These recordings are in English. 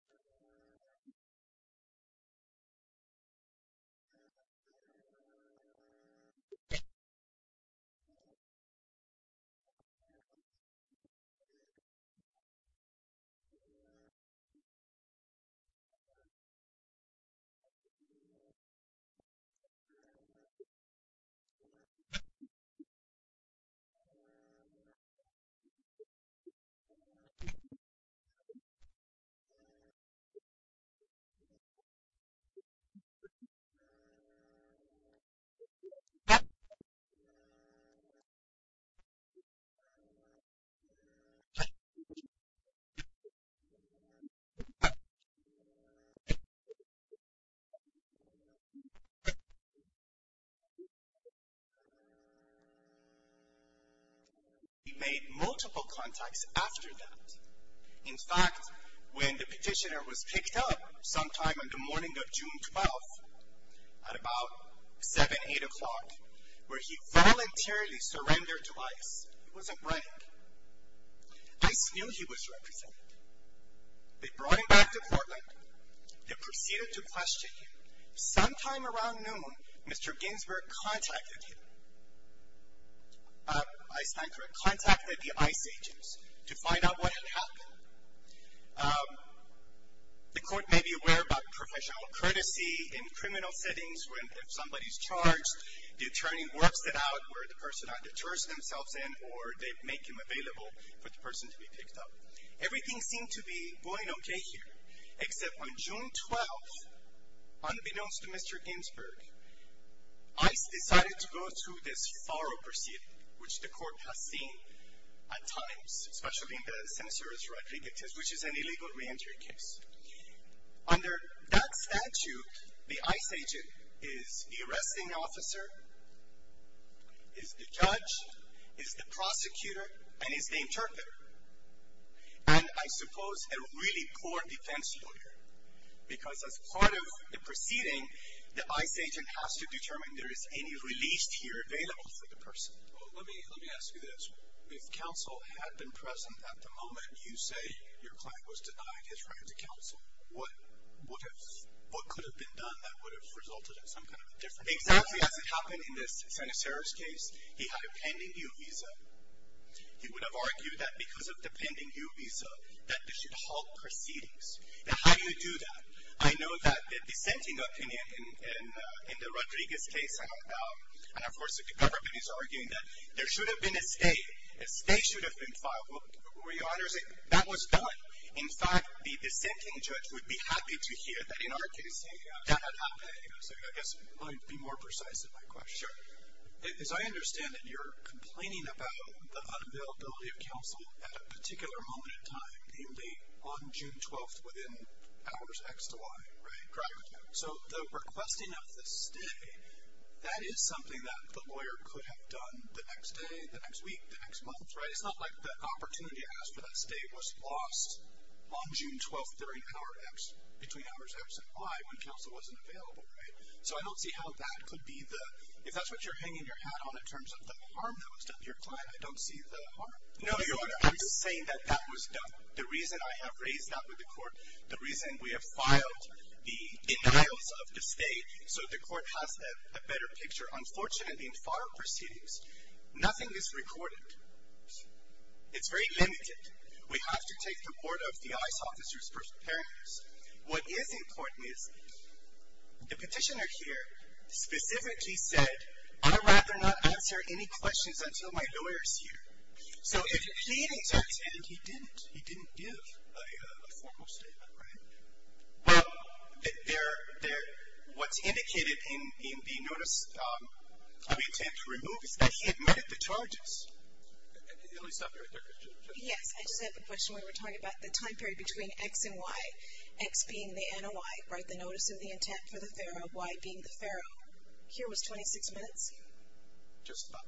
two-and-half, sorry, two-and-a-half, no the intention of what I just gave you is to do something and this will include it maybe. we made multiple contacts after that in fact when the petitioner was picked up sometime in the morning of June 12th at about 7, 8 o'clock where he voluntarily surrendered to ICE it was a prank ICE knew he was represented they brought him back to Portland they proceeded to question him sometime around noon Mr. Ginsberg contacted him ICE contact the ICE agents to find out what had happened the court may be aware about professional courtesy in criminal settings when somebody is charged the attorney works it out where the person deters themselves or they make him available for the person to be picked up everything seemed to be going okay here except on June 12th unbeknownst to Mr. Ginsberg ICE decided to go through this thorough proceeding which the court has seen at times which is an illegal re-entry case under that statute the ICE agent is the arresting officer is the judge is the prosecutor and is the interpreter and I suppose a really poor defense lawyer because as part of the proceeding the ICE agent has to determine if there is any release here available for the person let me ask you this if counsel had been present at the moment you say your client was denied his right to counsel what could have been done that would have resulted in some kind of a difference exactly as it happened in this Sen. Serra's case he had a pending new visa he would have argued that because of the pending new visa that this should halt proceedings now how do you do that? I know that the dissenting opinion in the Rodriguez case and of course the government is arguing that there should have been a stay a stay should have been filed that was done in fact the dissenting judge would be happy to hear that in our case that had happened I guess I'll be more precise in my question as I understand it you're complaining about the unavailability of counsel at a particular moment in time namely on June 12th within hours X to Y correct so the requesting of the stay that is something that the lawyer could have done the next day the next week, the next month it's not like the opportunity asked for that stay was lost on June 12th between hours X and Y when counsel wasn't available so I don't see how that could be the if that's what you're hanging your hat on in terms of the harm that was done to your client I'm just saying that that was done the reason I have raised that with the court the reason we have filed the denials of the stay so the court has a better picture unfortunately in filed proceedings nothing is recorded it's very limited we have to take the word of the ICE officers preparing us what is important is the petitioner here specifically said I'd rather not answer any questions until my lawyer is here so if he returns and he didn't he didn't give a formal statement well what's indicated in the notice of the intent to remove is that he admitted the charges yes I just have a question when we're talking about the time period between X and Y X being the analyte Y being the pharaoh here was 26 minutes just about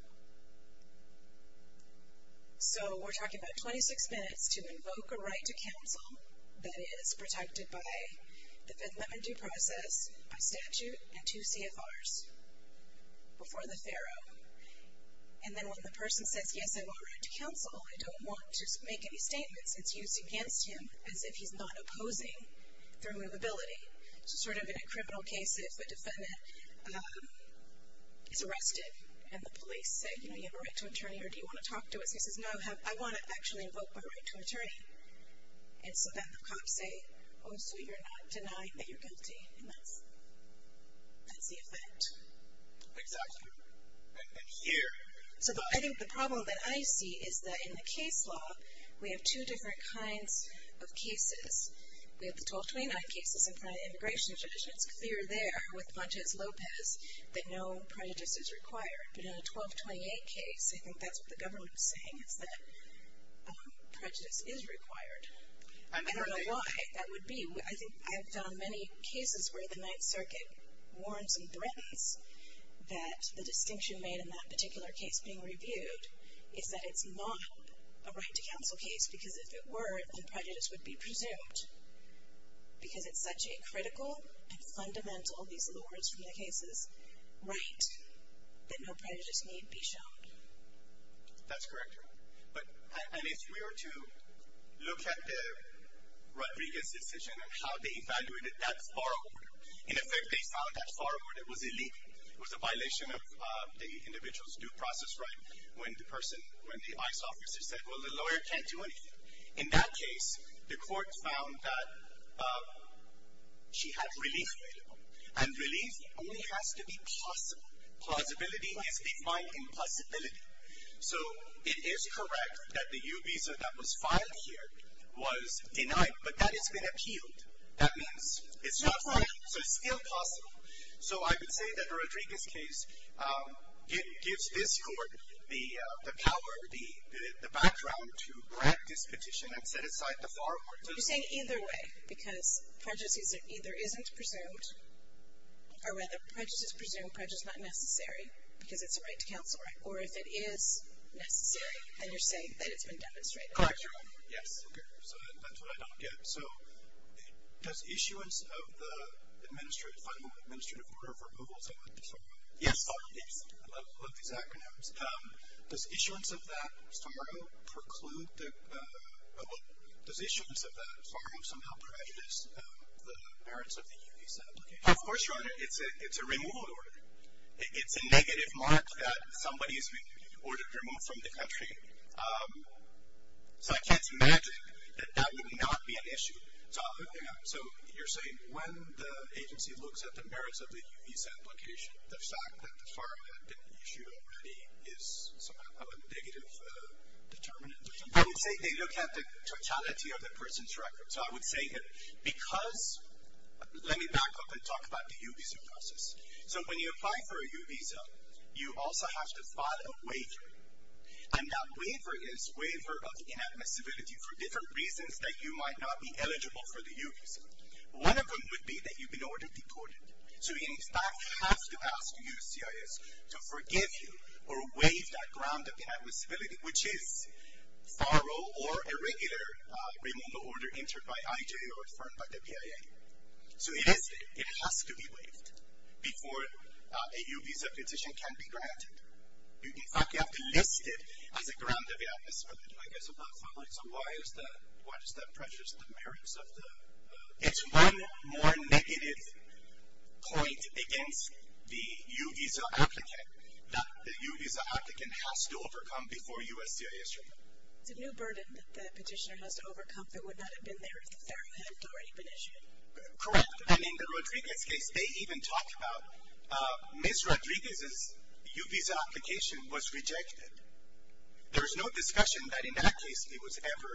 so we're talking about 26 minutes to invoke a right to counsel that is protected by the Fifth Amendment due process by statute and two CFRs before the pharaoh and then when the person says yes I want right to counsel I don't want to make any statements it's used against him as if he's not opposing the removability sort of in a criminal case if the defendant is arrested and the police say do you have a right to an attorney or do you want to talk to us he says no I want to actually invoke my right to an attorney and so that the cops say oh so you're not denying that you're guilty and that's the effect exactly and here I think the problem that I see is that in the case law we have two different kinds of cases we have the 1229 cases in front of immigration it's clear there with Lopez that no prejudice is required but in a 1228 case I think that's what the government is saying is that prejudice is required I don't know why that would be I've done many cases where the Ninth Circuit warns and threatens that the distinction made in that particular case being reviewed is that it's not a right to counsel case because if it were prejudice would be presumed because it's such a critical and fundamental, these are the words from the cases right that no prejudice need be shown that's correct and if we were to look at the Rodriguez decision and how they evaluated that far over in effect they found that far over it was illegal it was a violation of the individual's due process right when the person when the ICE officer said well the lawyer can't do anything in that case the court found that she had relief available and relief only has to be plausible plausibility is defined in possibility so it is correct that the U visa that was filed here was denied but that has been appealed that means it's still possible so I would say that the Rodriguez case gives this court the power the background to you're saying either way because prejudice either isn't presumed or whether prejudice is presumed, prejudice is not necessary because it's a right to counsel or if it is necessary then you're saying that it's been demonstrated correct your honor so that's what I don't get does issuance of the final administrative order of removal yes I love these acronyms does issuance of that does FARO preclude does issuance of that FARO somehow prejudice the merits of the U visa application of course your honor it's a removal order it's a negative mark that somebody's been ordered to remove from the country so I can't imagine that that would not be an issue so you're saying when the agency looks at the merits of the U visa application the fact that FARO had been issued already is somehow a negative determinant they look at the totality of the person's record so I would say that because let me back up and talk about the U visa process so when you apply for a U visa you also have to file a waiver and that waiver is waiver of inadmissibility for different reasons that you might not be eligible for the U visa one of them would be that you've been ordered deported so in fact you have to ask the USCIS to forgive you or waive that ground of inadmissibility which is FARO or a regular removal order entered by IJ or affirmed by the PIA so it has to be waived before a U visa petition can be granted in fact you have to list it as a ground of inadmissibility I guess I'm not following so why does that prejudice the merits of the it's one more negative point against the U visa applicant that the U visa applicant has to overcome before USCIS it's a new burden that the petitioner has to overcome that would not have been there if the FARO hadn't already been issued correct and in the Rodriguez case they even talk about Ms. Rodriguez's U visa application was rejected there was no discussion that in that case it was ever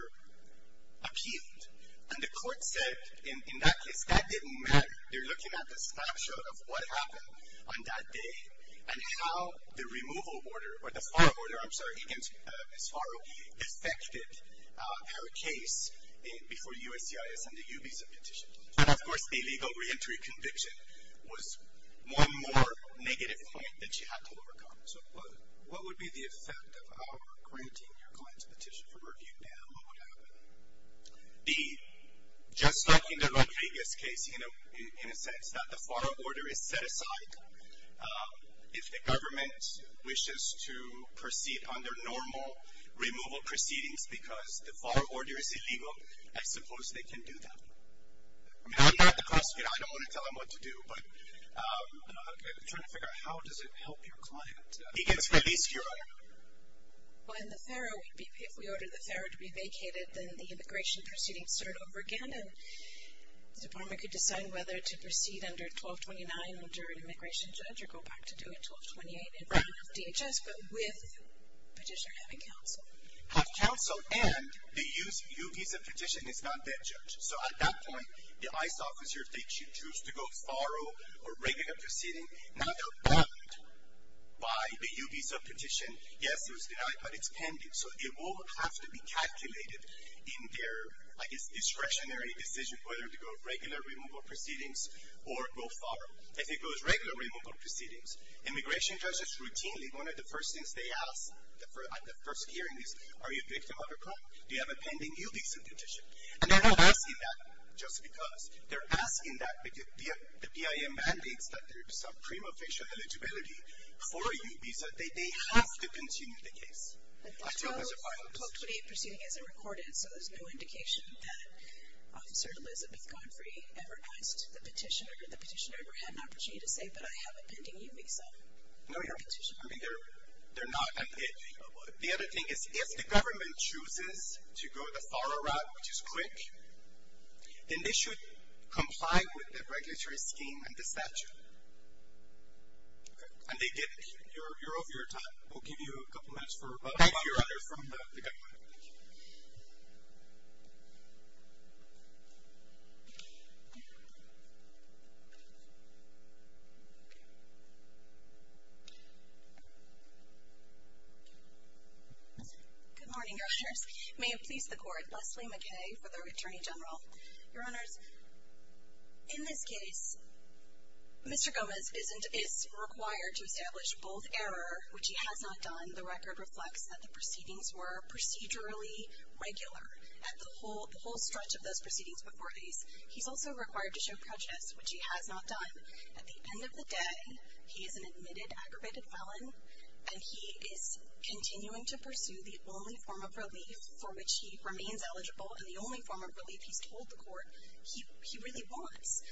appealed and the court said in that case that didn't matter they're looking at the snapshot of what happened on that day and how the removal order or the FARO order I'm sorry Ms. FARO affected her case before USCIS and the U visa petition and of course a legal re-entry conviction was one more negative point that she had to overcome so what would be the effect of our granting your client's petition for review now what would happen just like in the Rodriguez case in a sense that the FARO order is set aside if the government wishes to proceed under normal removal proceedings because the FARO order is illegal I suppose they can do that I'm not the prosecutor I don't want to tell them what to do but I'm trying to figure out how does it help your client he can release your order if we order the FARO order to be vacated then the immigration proceedings start over again and the department could decide whether to proceed under 1229 under an immigration judge or go back to doing 1228 and not have DHS but with petitioner having counsel have counsel and the U visa petition is not that judge so at that point the ICE officer if they choose to go FARO or regular proceeding not outlawed by the U visa petition yes it was denied but it's pending so it will have to be calculated in their discretionary decision whether to go regular removal proceedings or go FARO if it goes regular removal proceedings immigration judges routinely one of the first things they ask at the first hearing is are you a victim of a crime do you have a pending U visa petition and they're not asking that just because they're asking that because the BIM mandates that there is some prima facie eligibility for a U visa they have to continue the case 1228 proceeding isn't recorded so there's no indication that officer Elizabeth Godfrey ever asked the petitioner the petitioner ever had an opportunity to say but I have a pending U visa for your petitioner the other thing is if the government chooses to go the FARO route which is quick then they should comply with the regulatory scheme and the statute and they get it you're over your time we'll give you a couple minutes from the government good morning your honors may it please the court Leslie McKay for the Attorney General your honors in this case Mr. Gomez is required to establish both error which he has not done the record reflects that the proceedings were procedurally regular at the whole stretch of those proceedings before these he's also required to show prejudice which he has not done at the end of the day he is an admitted aggravated felon and he is continuing to pursue the only form of relief for which he remains eligible and the only form of relief he's told the court he really wants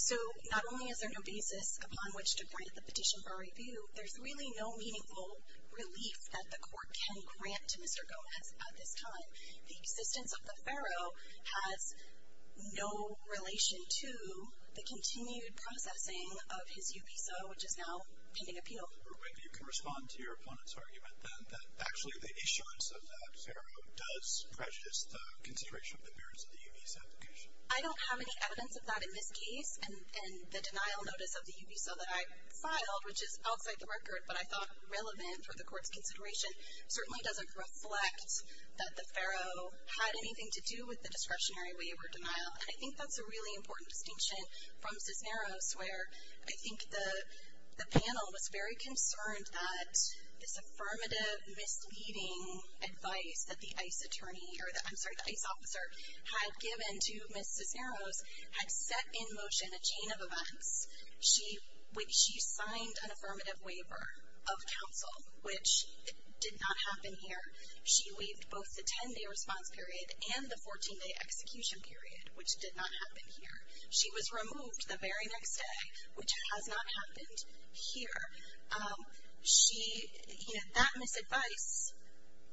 so not only is there no basis upon which to grant the petition for review there's really no meaningful relief that the court can grant to Mr. Gomez at this time the existence of the FARO has no relation to the continued processing of his U visa which is now pending appeal you can respond to your opponent's argument that actually the issuance of that FARO does prejudice the consideration of the merits of the U visa application I don't have any evidence of that in this case and the denial notice of the U visa that I filed which is outside the record but I thought relevant for the court's consideration certainly doesn't reflect that the FARO had anything to do with the discretionary waiver denial and I think that's a really important distinction from Cisneros where I think the panel was very concerned at this affirmative misleading advice that the ICE officer had given to Ms. Cisneros had set in motion a chain of events she signed an affirmative waiver of counsel which did not happen here she waived both the 10 day response period and the 14 day execution period which did not happen here she was removed the very next day which has not happened here she that misadvice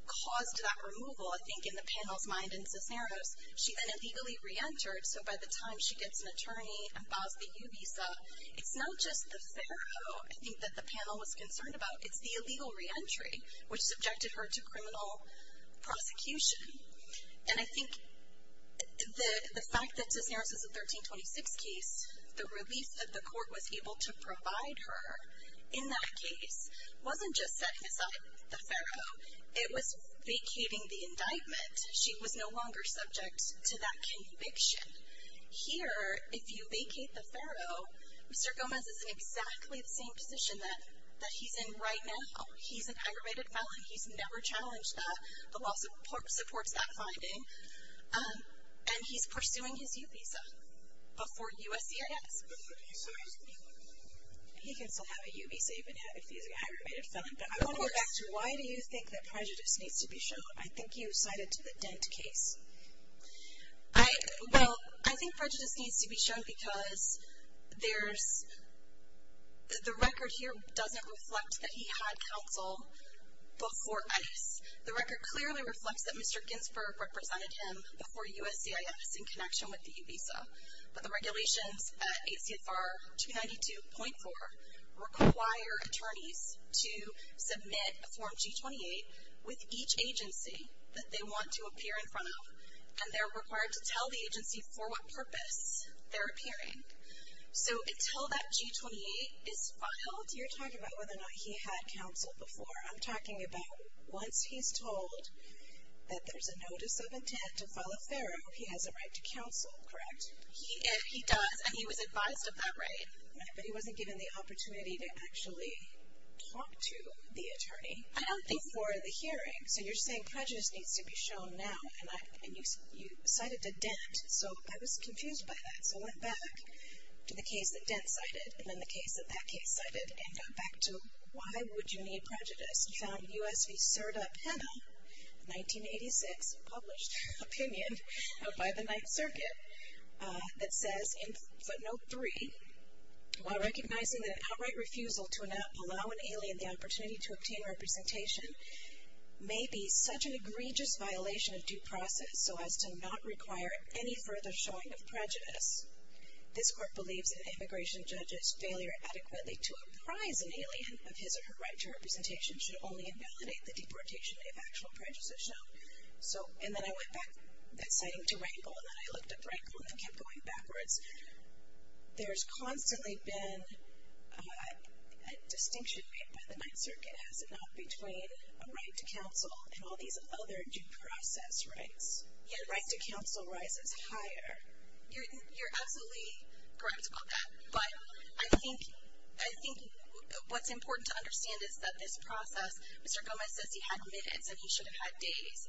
caused that removal I think in the panel's mind in Cisneros she then illegally re-entered so by the time she gets an attorney and files the U visa it's not just the FARO I think that the panel was concerned about it's the illegal re-entry which subjected her to criminal prosecution and I think the fact that Cisneros is a 1326 case the release that the court was able to provide her in that case wasn't just setting aside the FARO it was vacating the indictment she was no longer subject to that conviction here if you vacate the FARO Mr. Gomez is in exactly the same position that he's in right now he's an aggravated felon he's never challenged that the law supports that finding and he's pursuing his U visa before USCIS he can still have a U visa even if he's an aggravated felon but I want to go back to why do you think that prejudice needs to be shown I think you cited to the Dent case well I think prejudice needs to be shown because there's the record here doesn't reflect that he had counsel before ICE the record clearly reflects that Mr. Ginsberg represented him before USCIS in connection with the U visa but the regulations at ACFR 292.4 require attorneys to submit a form G28 with each agency that they want to appear in front of and they're required to tell the agency for what purpose they're appearing so until that G28 is filed you're talking about whether or not he had counsel before I'm talking about once he's told that there's a notice of intent to file a FARO he has a right to counsel correct he does and he was advised of that right but he wasn't given the opportunity to actually talk to the attorney before the hearing so you're saying prejudice needs to be shown now and you cited to Dent so I was confused by that so I went back to the case that Dent cited and then the case that that case cited and got back to why would you need prejudice and found U.S. v. Serda Pena 1986 published opinion by the 9th circuit that says in footnote 3 while recognizing that outright refusal to allow an alien the opportunity to obtain representation may be such an egregious violation of due process so as to not require any further showing of prejudice this court believes that an immigration judge's failure adequately to apprise an alien of his or her right to representation should only invalidate the deportation of actual prejudice as shown and then I went back to that citing to Rankle and then I looked up Rankle and it kept going backwards there's constantly been a distinction made by the 9th circuit has it not between a right to counsel and all these other due process rights yet right to counsel rises higher you're absolutely correct about that but I think what's important to understand is that this process Mr. Gomez says he had minutes and he should have had days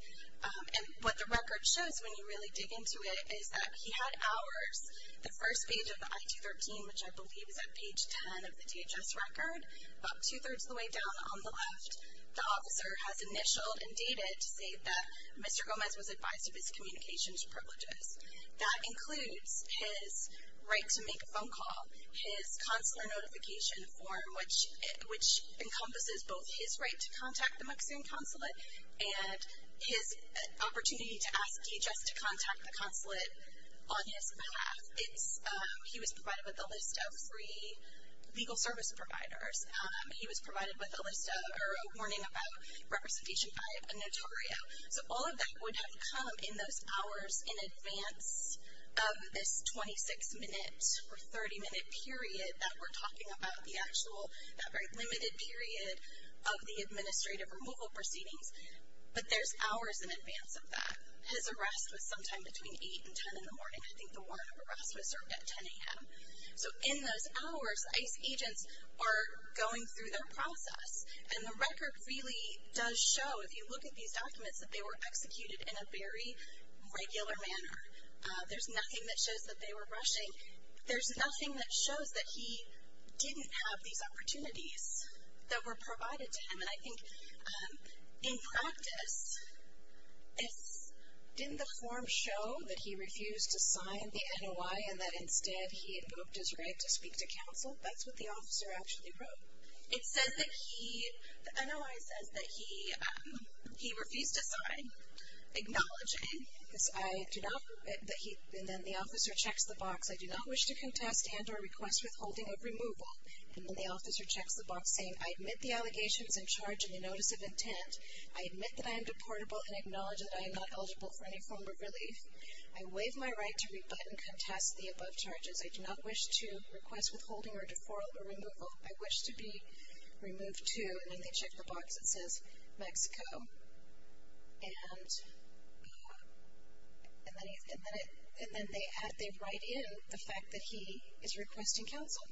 and what the record shows when you really dig into it is that he had hours the first page of the I-213 which I believe is at page 10 of the DHS record, about two thirds of the way down on the left, the officer has initialed and dated to say that Mr. Gomez was advised of his communications privileges that includes his right to make a phone call, his counselor notification form which encompasses both his right to contact the McSAN consulate and his opportunity to ask DHS to contact the consulate on his behalf he was provided with a list of three legal service providers he was provided with a list of or a warning about representation by a notario, so all of that would have come in those hours in advance of this 26 minute or 30 minute period that we're talking about the actual, that very limited period of the administrative removal proceedings, but there's hours in advance of that his arrest was sometime between 8 and 10 in the morning I think the warrant of arrest was served at 10am so in those hours ICE agents are going through their process and the record really does show if you look at these documents that they were executed in a very regular manner there's nothing that shows that they were rushing, there's nothing that he didn't have these opportunities that were provided to him and I think in practice didn't the form show that he refused to sign the NOI and that instead he had booked his right to speak to counsel? that's what the officer actually wrote it says that he, the NOI says that he refused to sign acknowledging that he and then the officer checks the box I do not wish to contest and or request withholding or removal and then the officer checks the box saying I admit the allegations and charge in the notice of intent I admit that I am deportable and acknowledge that I am not eligible for any form of relief I waive my right to rebut and contest the above charges I do not wish to request withholding or deferral or removal, I wish to be removed too and then they check the box it says Mexico and and then and then they write in the fact that he is requesting counsel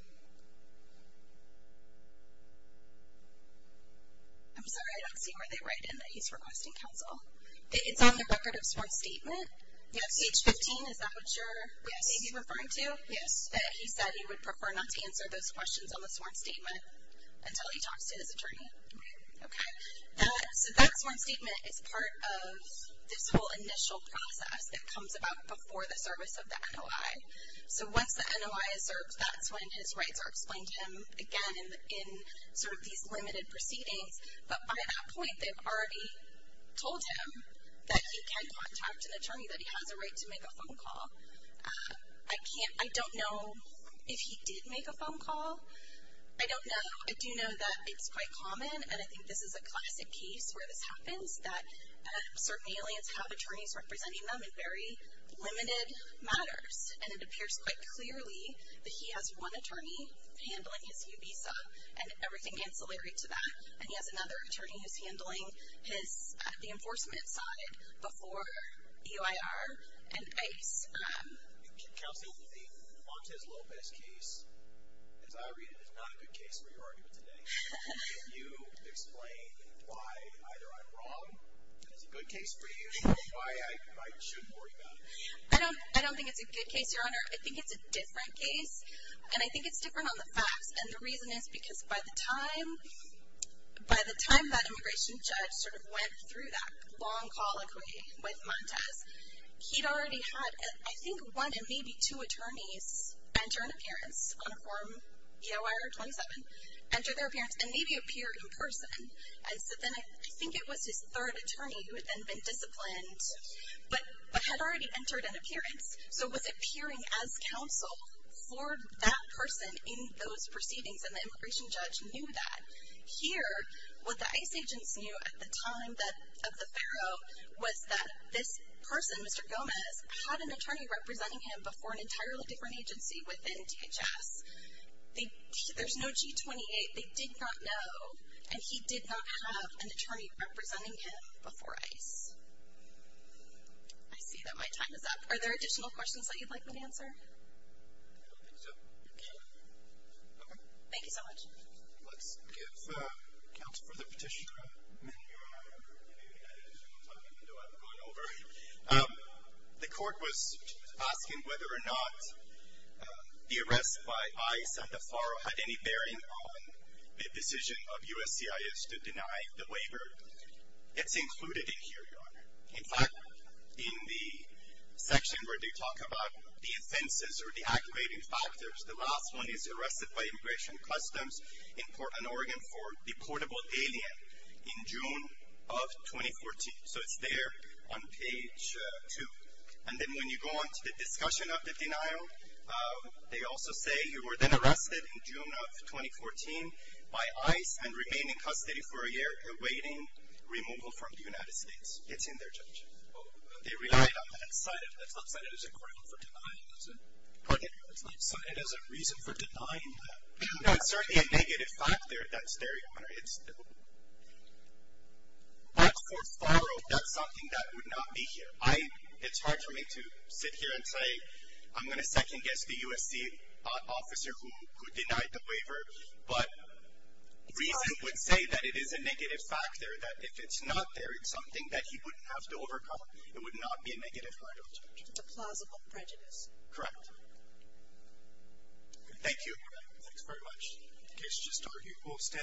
I'm sorry I don't see where they write in that he's requesting counsel it's on the record of sworn statement page 15 is that what you're maybe referring to? he said he would prefer not to answer those questions on the sworn statement until he talks to his attorney so that sworn statement is part of this initial process that comes about before the service of the NOI so once the NOI is served that's when his rights are explained to him again in sort of these limited proceedings but by that point they've already told him that he can contact an attorney that he has a right to make a phone call I can't, I don't know if he did make a phone call I don't know I do know that it's quite common and I think this is a classic case where this happens that certain aliens have attorneys representing them in very limited matters and it appears quite clearly that he has one attorney handling his new visa and everything ancillary to that and he has another attorney who's handling the enforcement side before EIR and ICE Counsel, the Montes Lopez case as I read it is not a good case for your argument today can you explain why either I'm wrong that it's a good case for you or why I should worry about it I don't think it's a good case your honor I think it's a different case and I think it's different on the facts and the reason is because by the time by the time that immigration judge sort of went through that long call with Montes he'd already had I think one and maybe two attorneys enter an appearance on a form EIR 27 enter their appearance and maybe appear in person I think it was his third attorney who had then been disciplined but had already entered an appearance so was appearing as counsel for that person in those proceedings and the immigration judge knew that here what the ICE agents knew at the time of the Faro was that this person, Mr. Gomez had an attorney representing him before an entirely different agency within DHS there's no G28 they did not know and he did not have an attorney representing him before ICE I see that my time is up. Are there additional questions that you'd like me to answer? I don't think so Thank you so much Let's give counsel for the petition your honor I'm going over the court was asking whether or not the arrest by ICE and the Faro had any bearing on the decision of USCIS to deny the waiver it's included in here your honor in fact in the section where they talk about the offenses or the activating factors the last one is arrested by immigration customs in Oregon for deportable alien in June of 2014 so it's there on page two and then when you go on to the discussion of the denial they also say you were then arrested in June of 2014 by ICE and remain in custody for a year awaiting removal from the United States it's in there Judge it's not cited as a crime for denying pardon me it's not cited as a reason for denying it's certainly a negative factor that's there your honor but for Faro that's something that would not be here it's hard for me to sit here and say I'm going to second guess the USC officer who denied the waiver but reason would say that it is a negative factor that if it's not there it's something that he wouldn't have to overcome it would not be a negative it's a plausible prejudice correct thank you thank you very much